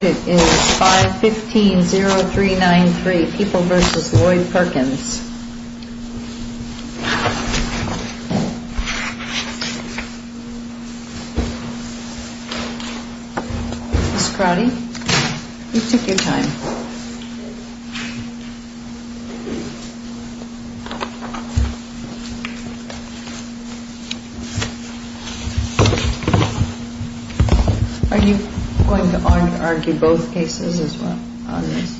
It is 515-0393, People v. Lloyd Perkins. Ms. Crotty, you took your time. Are you going to argue both cases as well on this?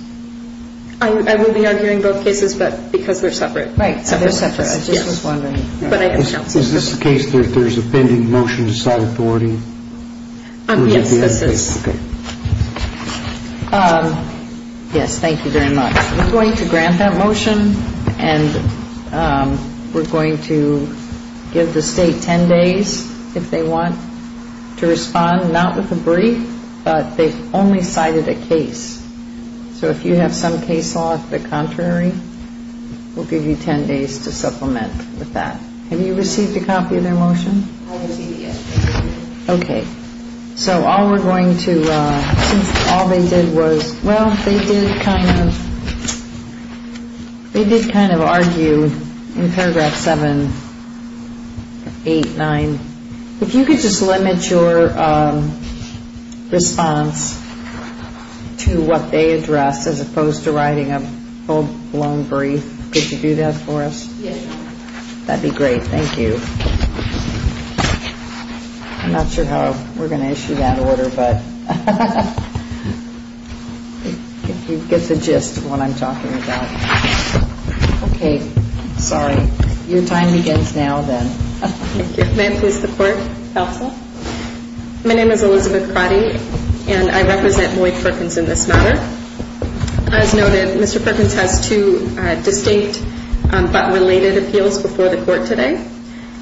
I will be arguing both cases, but because they're separate. Right, they're separate. I just was wondering. Is this the case that there's a pending motion to sell authority? Yes, this is. Yes, thank you very much. We're going to grant that motion and we're going to give the State 10 days if they want to respond, not with a brief, but they've only cited a case. So if you have some case off the contrary, we'll give you 10 days to supplement with that. Have you received a copy of their motion? I received it yesterday. Okay. So all we're going to, since all they did was, well, they did kind of argue in paragraph 789. If you could just limit your response to what they addressed as opposed to writing a full-blown brief, could you do that for us? Yes, ma'am. That'd be great. Thank you. I'm not sure how we're going to issue that order, but if you get the gist of what I'm talking about. Okay. Sorry. Your time begins now then. Thank you. May I please have the court counsel? My name is Elizabeth Crotty and I represent Lloyd Perkins in this matter. As noted, Mr. Perkins has two distinct but related appeals before the court today.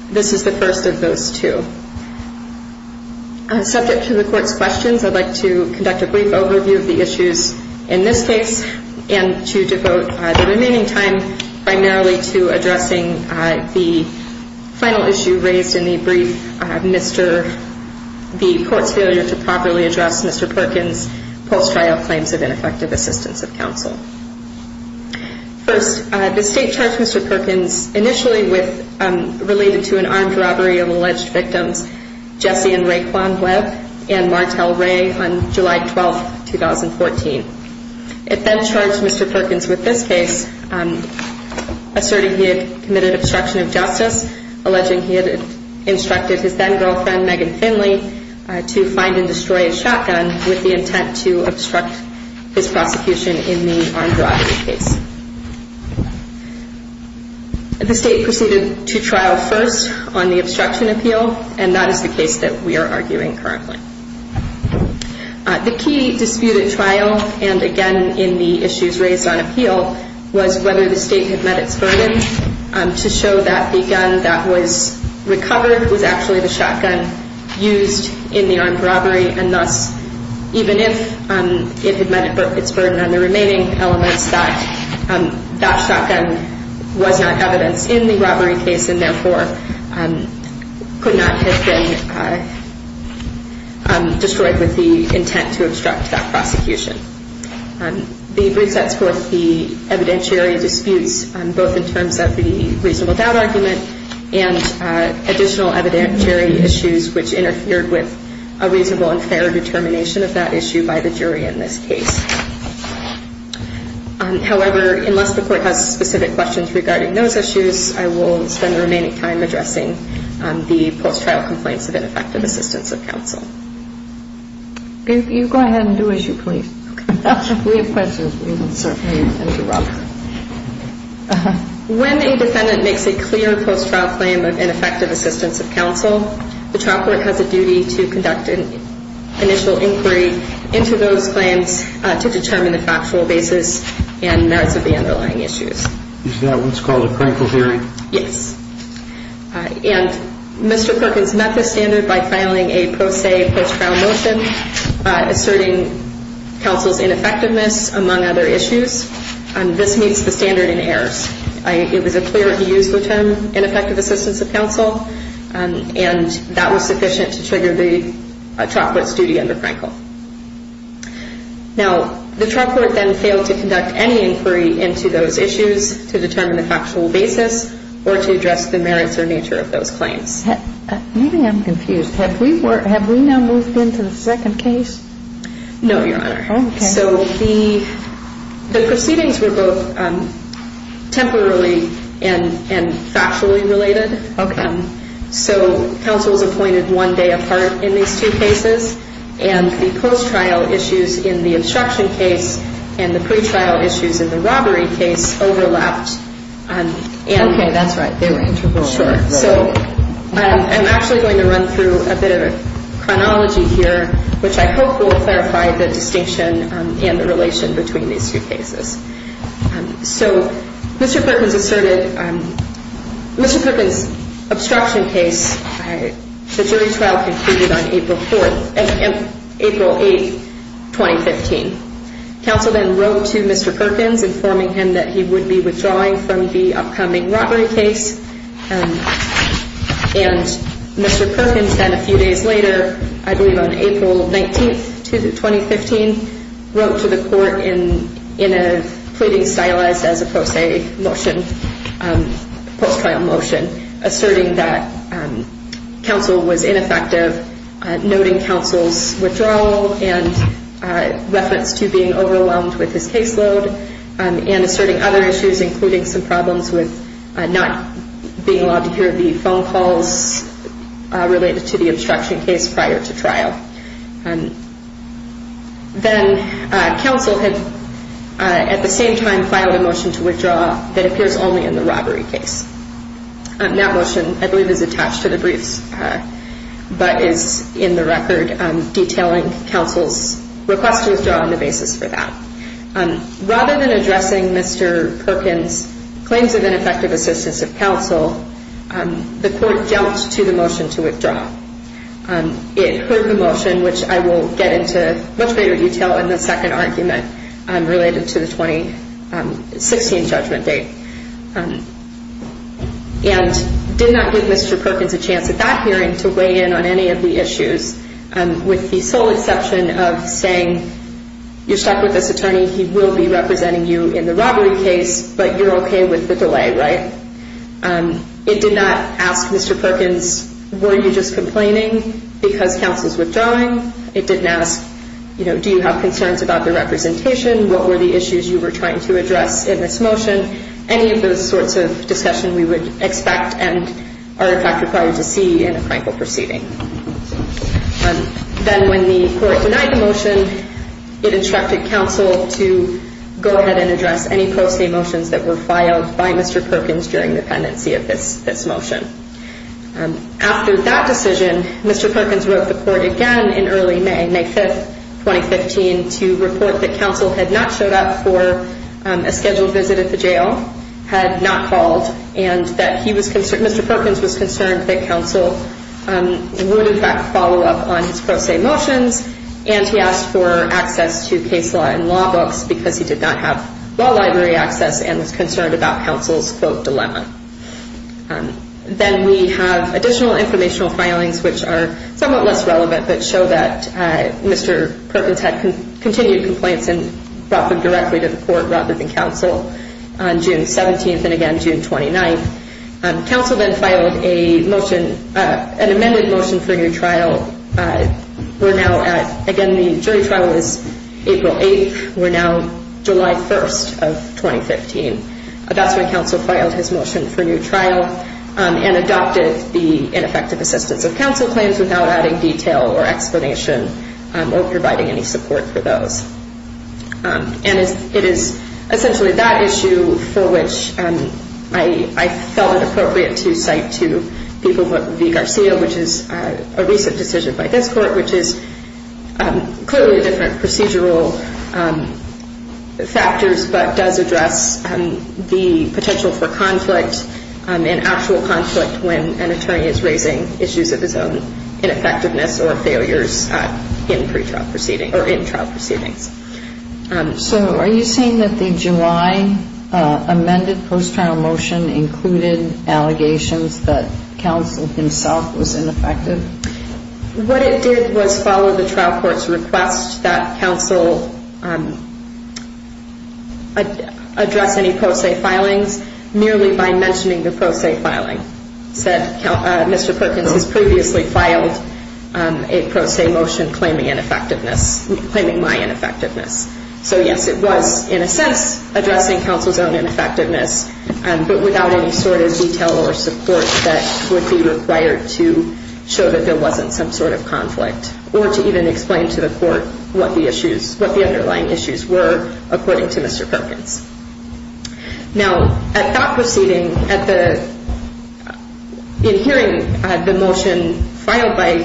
This is the first of those two. Subject to the court's questions, I'd like to conduct a brief overview of the issues in this case and to devote the remaining time primarily to addressing the final issue raised in the brief, the court's failure to properly address Mr. Perkins' post-trial claims of ineffective assistance of counsel. First, the State charged Mr. Perkins initially related to an armed robbery of alleged victims Jesse and Raekwon Webb and Martel Ray on July 12, 2014. It then charged Mr. Perkins with this case, asserting he had committed obstruction of justice, alleging he had instructed his then-girlfriend Megan Finley to find and destroy a shotgun with the intent to obstruct his prosecution in the armed robbery case. The State proceeded to trial first on the obstruction appeal, and that is the case that we are arguing currently. The key dispute at trial, and again in the issues raised on appeal, was whether the State had met its burden to show that the gun that was recovered was actually the shotgun used in the armed robbery, and thus even if it had met its burden on the remaining elements, that that shotgun was not evidence in the robbery case and therefore could not have been destroyed with the intent to obstruct that prosecution. The brief sets forth the evidentiary disputes, both in terms of the reasonable doubt argument and additional evidentiary issues which interfered with a reasonable and fair determination of that issue by the jury in this case. However, unless the Court has specific questions regarding those issues, I will spend the remaining time addressing the post-trial complaints of ineffective assistance of counsel. You go ahead and do as you please. If we have questions, we can certainly interrupt. When a defendant makes a clear post-trial claim of ineffective assistance of counsel, the trial court has a duty to conduct an initial inquiry into those claims to determine the factual basis and merits of the underlying issues. Is that what's called a crinkle hearing? Yes. And Mr. Perkins met this standard by filing a pro se post-trial motion asserting counsel's ineffectiveness among other issues. This meets the standard in errors. It was a clear and useful term, ineffective assistance of counsel, and that was sufficient to trigger the trial court's duty under Crinkle. Now, the trial court then failed to conduct any inquiry into those issues to determine the factual basis or to address the merits or nature of those claims. Maybe I'm confused. Have we now moved into the second case? No, Your Honor. Okay. So the proceedings were both temporarily and factually related. Okay. So counsel was appointed one day apart in these two cases, and the post-trial issues in the obstruction case and the pretrial issues in the robbery case overlapped. Okay, that's right. They were interwoven. Sure. So I'm actually going to run through a bit of a chronology here, which I hope will clarify the distinction and the relation between these two cases. So Mr. Perkins asserted Mr. Perkins' obstruction case, and the jury trial concluded on April 8, 2015. Counsel then wrote to Mr. Perkins informing him that he would be withdrawing from the upcoming robbery case, and Mr. Perkins then a few days later, I believe on April 19, 2015, wrote to the court in a pleading stylized as a post-trial motion, asserting that counsel was ineffective, noting counsel's withdrawal and reference to being overwhelmed with his caseload, and asserting other issues including some problems with not being allowed to hear the phone calls related to the obstruction case prior to trial. Then counsel had at the same time filed a motion to withdraw that appears only in the robbery case. That motion, I believe, is attached to the briefs, but is in the record detailing counsel's request to withdraw on the basis for that. Rather than addressing Mr. Perkins' claims of ineffective assistance of counsel, the court jumped to the motion to withdraw. It heard the motion, which I will get into in much greater detail in the second argument related to the 2016 judgment date, and did not give Mr. Perkins a chance at that hearing to weigh in on any of the issues, with the sole exception of saying, you're stuck with this attorney, he will be representing you in the robbery case, but you're okay with the delay, right? It did not ask Mr. Perkins, were you just complaining because counsel's withdrawing? It didn't ask, do you have concerns about the representation? What were the issues you were trying to address in this motion? Any of those sorts of discussion we would expect and are in fact required to see in a criminal proceeding. Then when the court denied the motion, it instructed counsel to go ahead and address any post-date motions that were filed by Mr. Perkins during the pendency of this motion. After that decision, Mr. Perkins wrote the court again in early May, May 5, 2015, to report that counsel had not showed up for a scheduled visit at the jail, had not called, and that Mr. Perkins was concerned that counsel would in fact follow up on his pro se motions, and he asked for access to case law and law books because he did not have law library access and was concerned about counsel's quote dilemma. Then we have additional informational filings which are somewhat less relevant, but show that Mr. Perkins had continued complaints and brought them directly to the court rather than counsel on June 17 and again June 29. Counsel then filed an amended motion for a new trial. We're now at, again, the jury trial is April 8. We're now July 1 of 2015. That's when counsel filed his motion for new trial and adopted the ineffective assistance of counsel claims without adding detail or explanation or providing any support for those. And it is essentially that issue for which I felt it appropriate to cite to people what V. Garcia, which is a recent decision by this court, which is clearly different procedural factors, but does address the potential for conflict and actual conflict when an attorney is raising issues of his own, ineffectiveness or failures in pre-trial proceedings or in trial proceedings. So are you saying that the July amended post-trial motion included allegations that counsel himself was ineffective? What it did was follow the trial court's request that counsel address any pro se filings merely by mentioning the pro se filing. It said Mr. Perkins has previously filed a pro se motion claiming ineffectiveness, claiming my ineffectiveness. So yes, it was in a sense addressing counsel's own ineffectiveness, but without any sort of detail or support that would be required to show that there wasn't some sort of conflict or to even explain to the court what the underlying issues were, according to Mr. Perkins. Now, at that proceeding, in hearing the motion filed by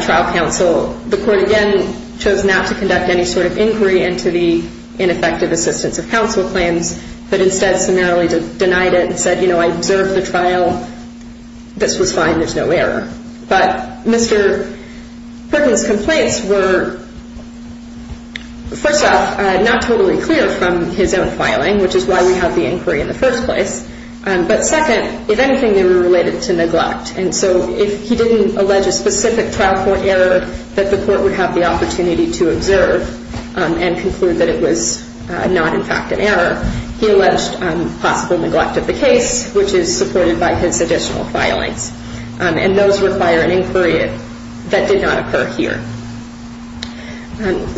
trial counsel, the court again chose not to conduct any sort of inquiry into the ineffective assistance of counsel claims, but instead summarily denied it and said, you know, I observed the trial. This was fine. There's no error. But Mr. Perkins' complaints were, first off, not totally clear from his own filing, which is why we have the inquiry in the first place. But second, if anything, they were related to neglect. And so if he didn't allege a specific trial court error that the court would have the opportunity to observe and conclude that it was not, in fact, an error, he alleged possible neglect of the case, which is supported by his additional filings. And those require an inquiry that did not occur here.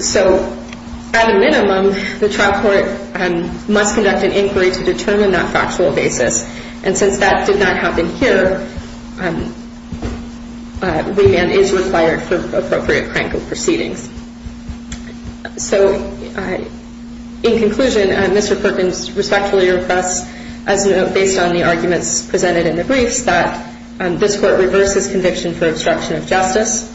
So at a minimum, the trial court must conduct an inquiry to determine that factual basis. And since that did not happen here, remand is required for appropriate crank of proceedings. So in conclusion, Mr. Perkins respectfully requests, as based on the arguments presented in the briefs, that this court reverse his conviction for obstruction of justice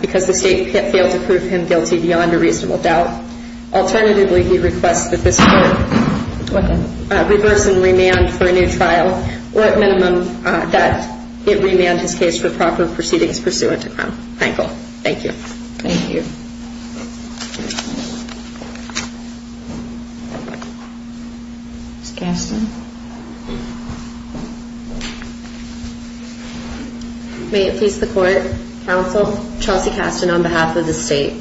because the state failed to prove him guilty beyond a reasonable doubt. Alternatively, he requests that this court reverse and remand for a new trial, or at minimum, that it remand his case for proper proceedings pursuant to Crankle. Thank you. Thank you. Ms. Kasten. May it please the court, counsel, Chelsea Kasten on behalf of the state.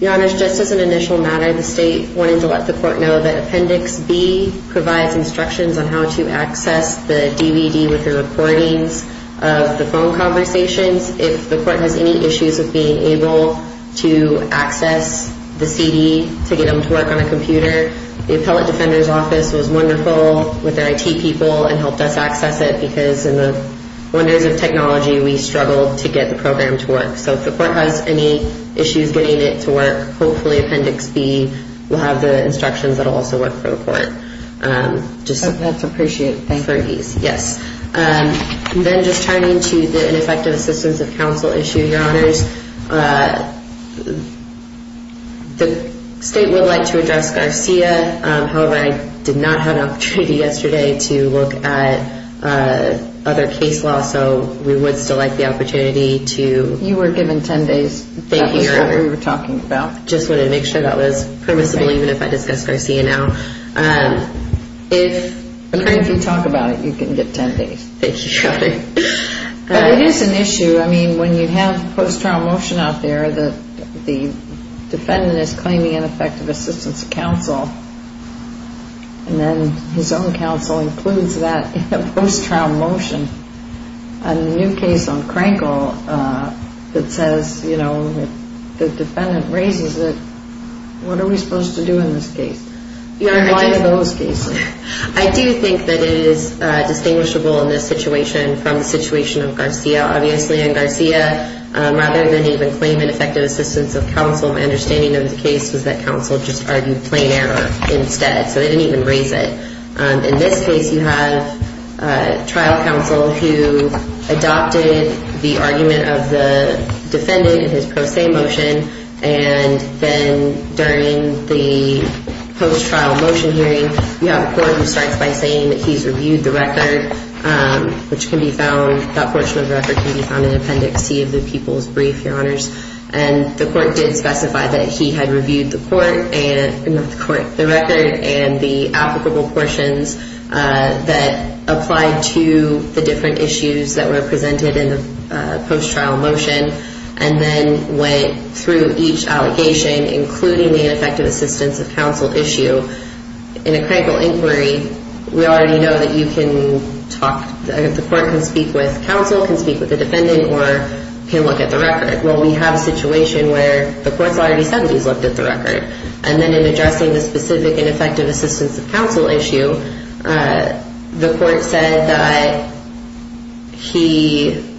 Your Honor, just as an initial matter, the state wanted to let the court know that Appendix B provides instructions on how to access the DVD with the recordings of the phone conversations. If the court has any issues with being able to access the CD to get them to work on a computer, the Appellate Defender's Office was wonderful with their IT people and helped us access it because in the wonders of technology, we struggled to get the program to work. So if the court has any issues getting it to work, hopefully Appendix B will have the instructions that will also work for the court. That's appreciated. Thank you. Yes. And then just turning to the ineffective assistance of counsel issue, Your Honors. The state would like to address Garcia. However, I did not have an opportunity yesterday to look at other case law, so we would still like the opportunity to... You were given 10 days. Thank you, Your Honor. That's what we were talking about. Just wanted to make sure that was permissible even if I discuss Garcia now. If you talk about it, you can get 10 days. Thank you, Your Honor. But it is an issue. I mean, when you have post-trial motion out there, the defendant is claiming ineffective assistance of counsel, and then his own counsel includes that in a post-trial motion. A new case on Krankel that says, you know, the defendant raises it. What are we supposed to do in this case? You're applying to those cases. I do think that it is distinguishable in this situation from the situation of Garcia. Obviously, in Garcia, rather than even claim ineffective assistance of counsel, my understanding of the case was that counsel just argued plain error instead, so they didn't even raise it. In this case, you have trial counsel who adopted the argument of the defendant in his pro se motion, and then during the post-trial motion hearing, you have a court who starts by saying that he's reviewed the record, which can be found, that portion of the record can be found in Appendix T of the People's Brief, Your Honors. And the court did specify that he had reviewed the court and... Not the court. ...that applied to the different issues that were presented in the post-trial motion, and then went through each allegation, including the ineffective assistance of counsel issue. In a Krankel inquiry, we already know that you can talk... The court can speak with counsel, can speak with the defendant, or can look at the record. Well, we have a situation where the court's already said he's looked at the record. And then in addressing the specific and effective assistance of counsel issue, the court said that he...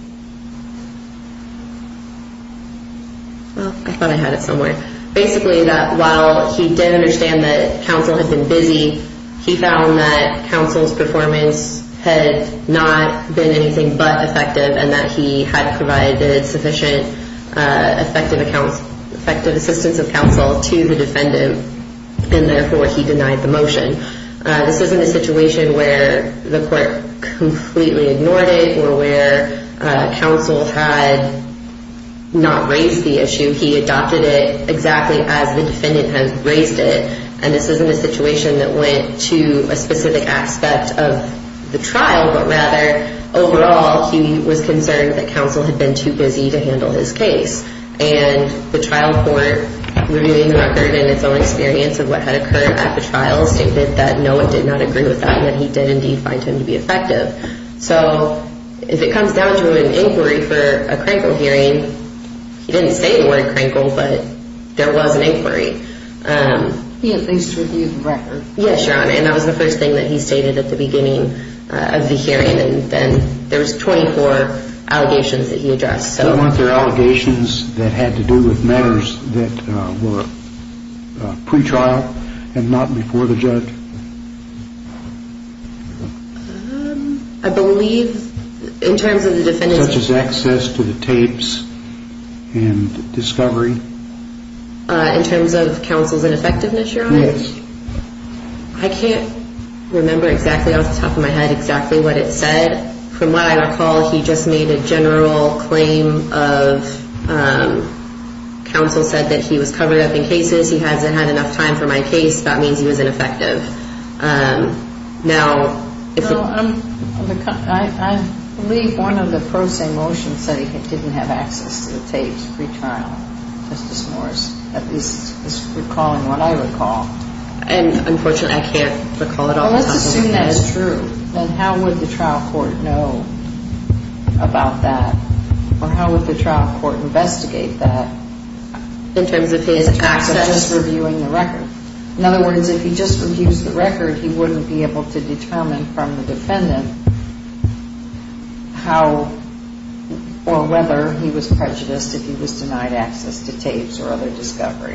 Well, I thought I had it somewhere. Basically, that while he did understand that counsel had been busy, he found that counsel's performance had not been anything but effective, and that he had provided sufficient effective assistance of counsel to the defendant, and therefore he denied the motion. This isn't a situation where the court completely ignored it or where counsel had not raised the issue. He adopted it exactly as the defendant had raised it. And this isn't a situation that went to a specific aspect of the trial, but rather overall he was concerned that counsel had been too busy to handle his case. And the trial court, reviewing the record and its own experience of what had occurred at the trial, stated that no one did not agree with that and that he did indeed find him to be effective. So if it comes down to an inquiry for a Krankel hearing, he didn't say the word Krankel, but there was an inquiry. He at least reviewed the record. Yes, Your Honor, and that was the first thing that he stated at the beginning of the hearing. And then there was 24 allegations that he addressed. Were there allegations that had to do with matters that were pre-trial and not before the judge? I believe in terms of the defendant's case. Such as access to the tapes and discovery? In terms of counsel's ineffectiveness, Your Honor? Yes. I can't remember exactly off the top of my head exactly what it said. From what I recall, he just made a general claim of counsel said that he was covered up in cases. He hasn't had enough time for my case. That means he was ineffective. I believe one of the pro se motions said he didn't have access to the tapes pre-trial, Justice Morris, at least is recalling what I recall. And, unfortunately, I can't recall it off the top of my head. Well, let's assume that is true. Then how would the trial court know about that? Or how would the trial court investigate that? In terms of his access? In terms of just reviewing the record. In other words, if he just reviews the record, he wouldn't be able to determine from the defendant how or whether he was prejudiced if he was denied access to tapes or other discovery.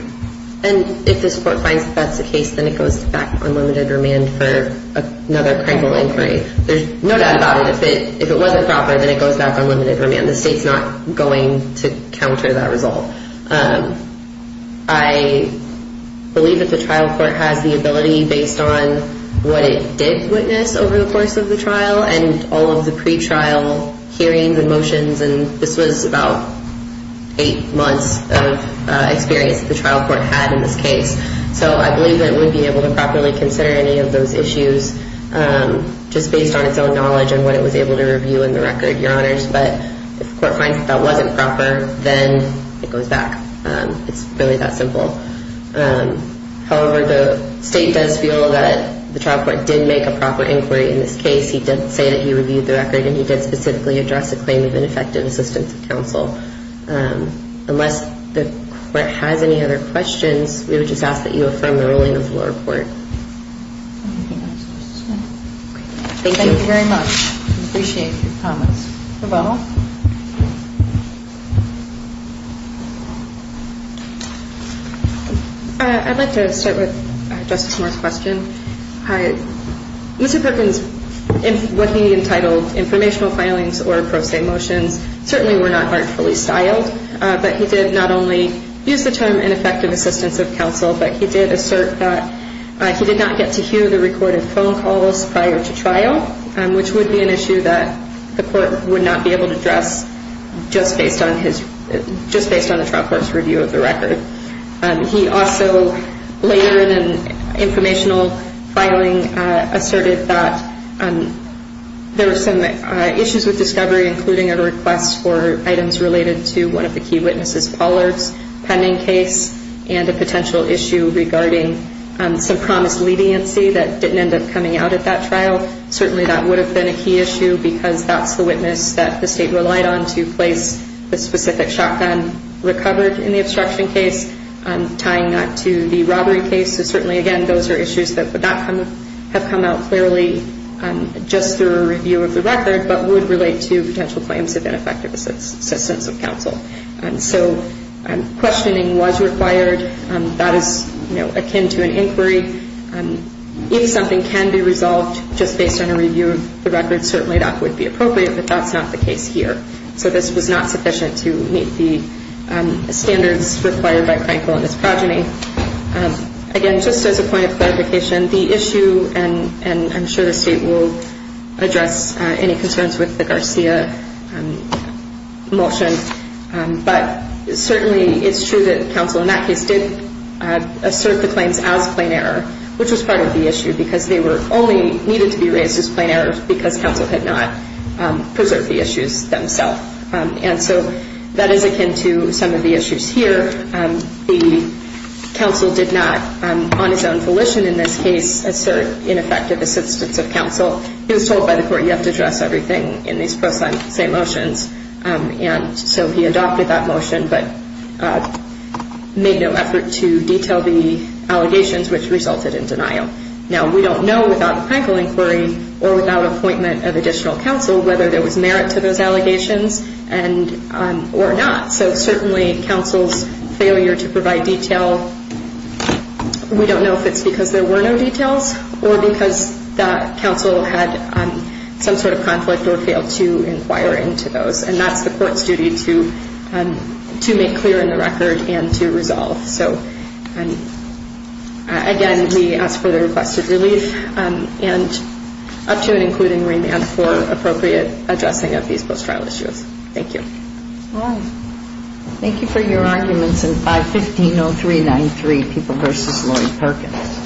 And if the court finds that that's the case, then it goes back on limited remand for another criminal inquiry. There's no doubt about it. If it wasn't proper, then it goes back on limited remand. The state's not going to counter that result. I believe that the trial court has the ability based on what it did witness over the course of the trial and all of the pre-trial hearings and motions. And this was about eight months of experience that the trial court had in this case. So I believe that it would be able to properly consider any of those issues just based on its own knowledge and what it was able to review in the record, Your Honors. But if the court finds that that wasn't proper, then it goes back. It's really that simple. However, the state does feel that the trial court did make a proper inquiry in this case. He did say that he reviewed the record, and he did specifically address the claim of ineffective assistance of counsel. Unless the court has any other questions, we would just ask that you affirm the ruling of the lower court. Anything else? Okay. Thank you. Thank you very much. I appreciate your comments. Proveno? I'd like to start with Justice Moore's question. Mr. Perkins, what he entitled informational filings or pro se motions certainly were not artfully styled, but he did not only use the term ineffective assistance of counsel, but he did assert that he did not get to hear the recorded phone calls prior to trial, which would be an issue that the court would not be able to address just based on the trial court's review of the record. He also later in an informational filing asserted that there were some issues with discovery, including a request for items related to one of the key witnesses Pollard's pending case and a potential issue regarding some promised leniency that didn't end up coming out at that trial. Certainly that would have been a key issue because that's the witness that the state relied on to place the specific shotgun recovered in the obstruction case, tying that to the robbery case. So certainly, again, those are issues that would not have come out clearly just through a review of the record, but would relate to potential claims of ineffective assistance of counsel. And so questioning was required. That is, you know, akin to an inquiry. If something can be resolved just based on a review of the record, certainly that would be appropriate, but that's not the case here. So this was not sufficient to meet the standards required by Frankl and his progeny. Again, just as a point of clarification, the issue, and I'm sure the state will address any concerns with the Garcia motion, but certainly it's true that counsel in that case did assert the claims as plain error, which was part of the issue because they were only needed to be raised as plain errors because counsel had not preserved the issues themselves. And so that is akin to some of the issues here. The counsel did not, on his own volition in this case, assert ineffective assistance of counsel. He was told by the court, you have to address everything in these pro se motions. And so he adopted that motion but made no effort to detail the allegations, which resulted in denial. Now, we don't know without the Frankl inquiry or without appointment of additional counsel whether there was merit to those allegations or not. So certainly counsel's failure to provide detail, we don't know if it's because there were no details or because the counsel had some sort of conflict or failed to inquire into those. And that's the court's duty to make clear in the record and to resolve. So again, we ask for the requested relief and up to and including remand for appropriate addressing of these post-trial issues. Thank you. All right. Thank you for your arguments in 515-0393, People v. Laurie Perkins.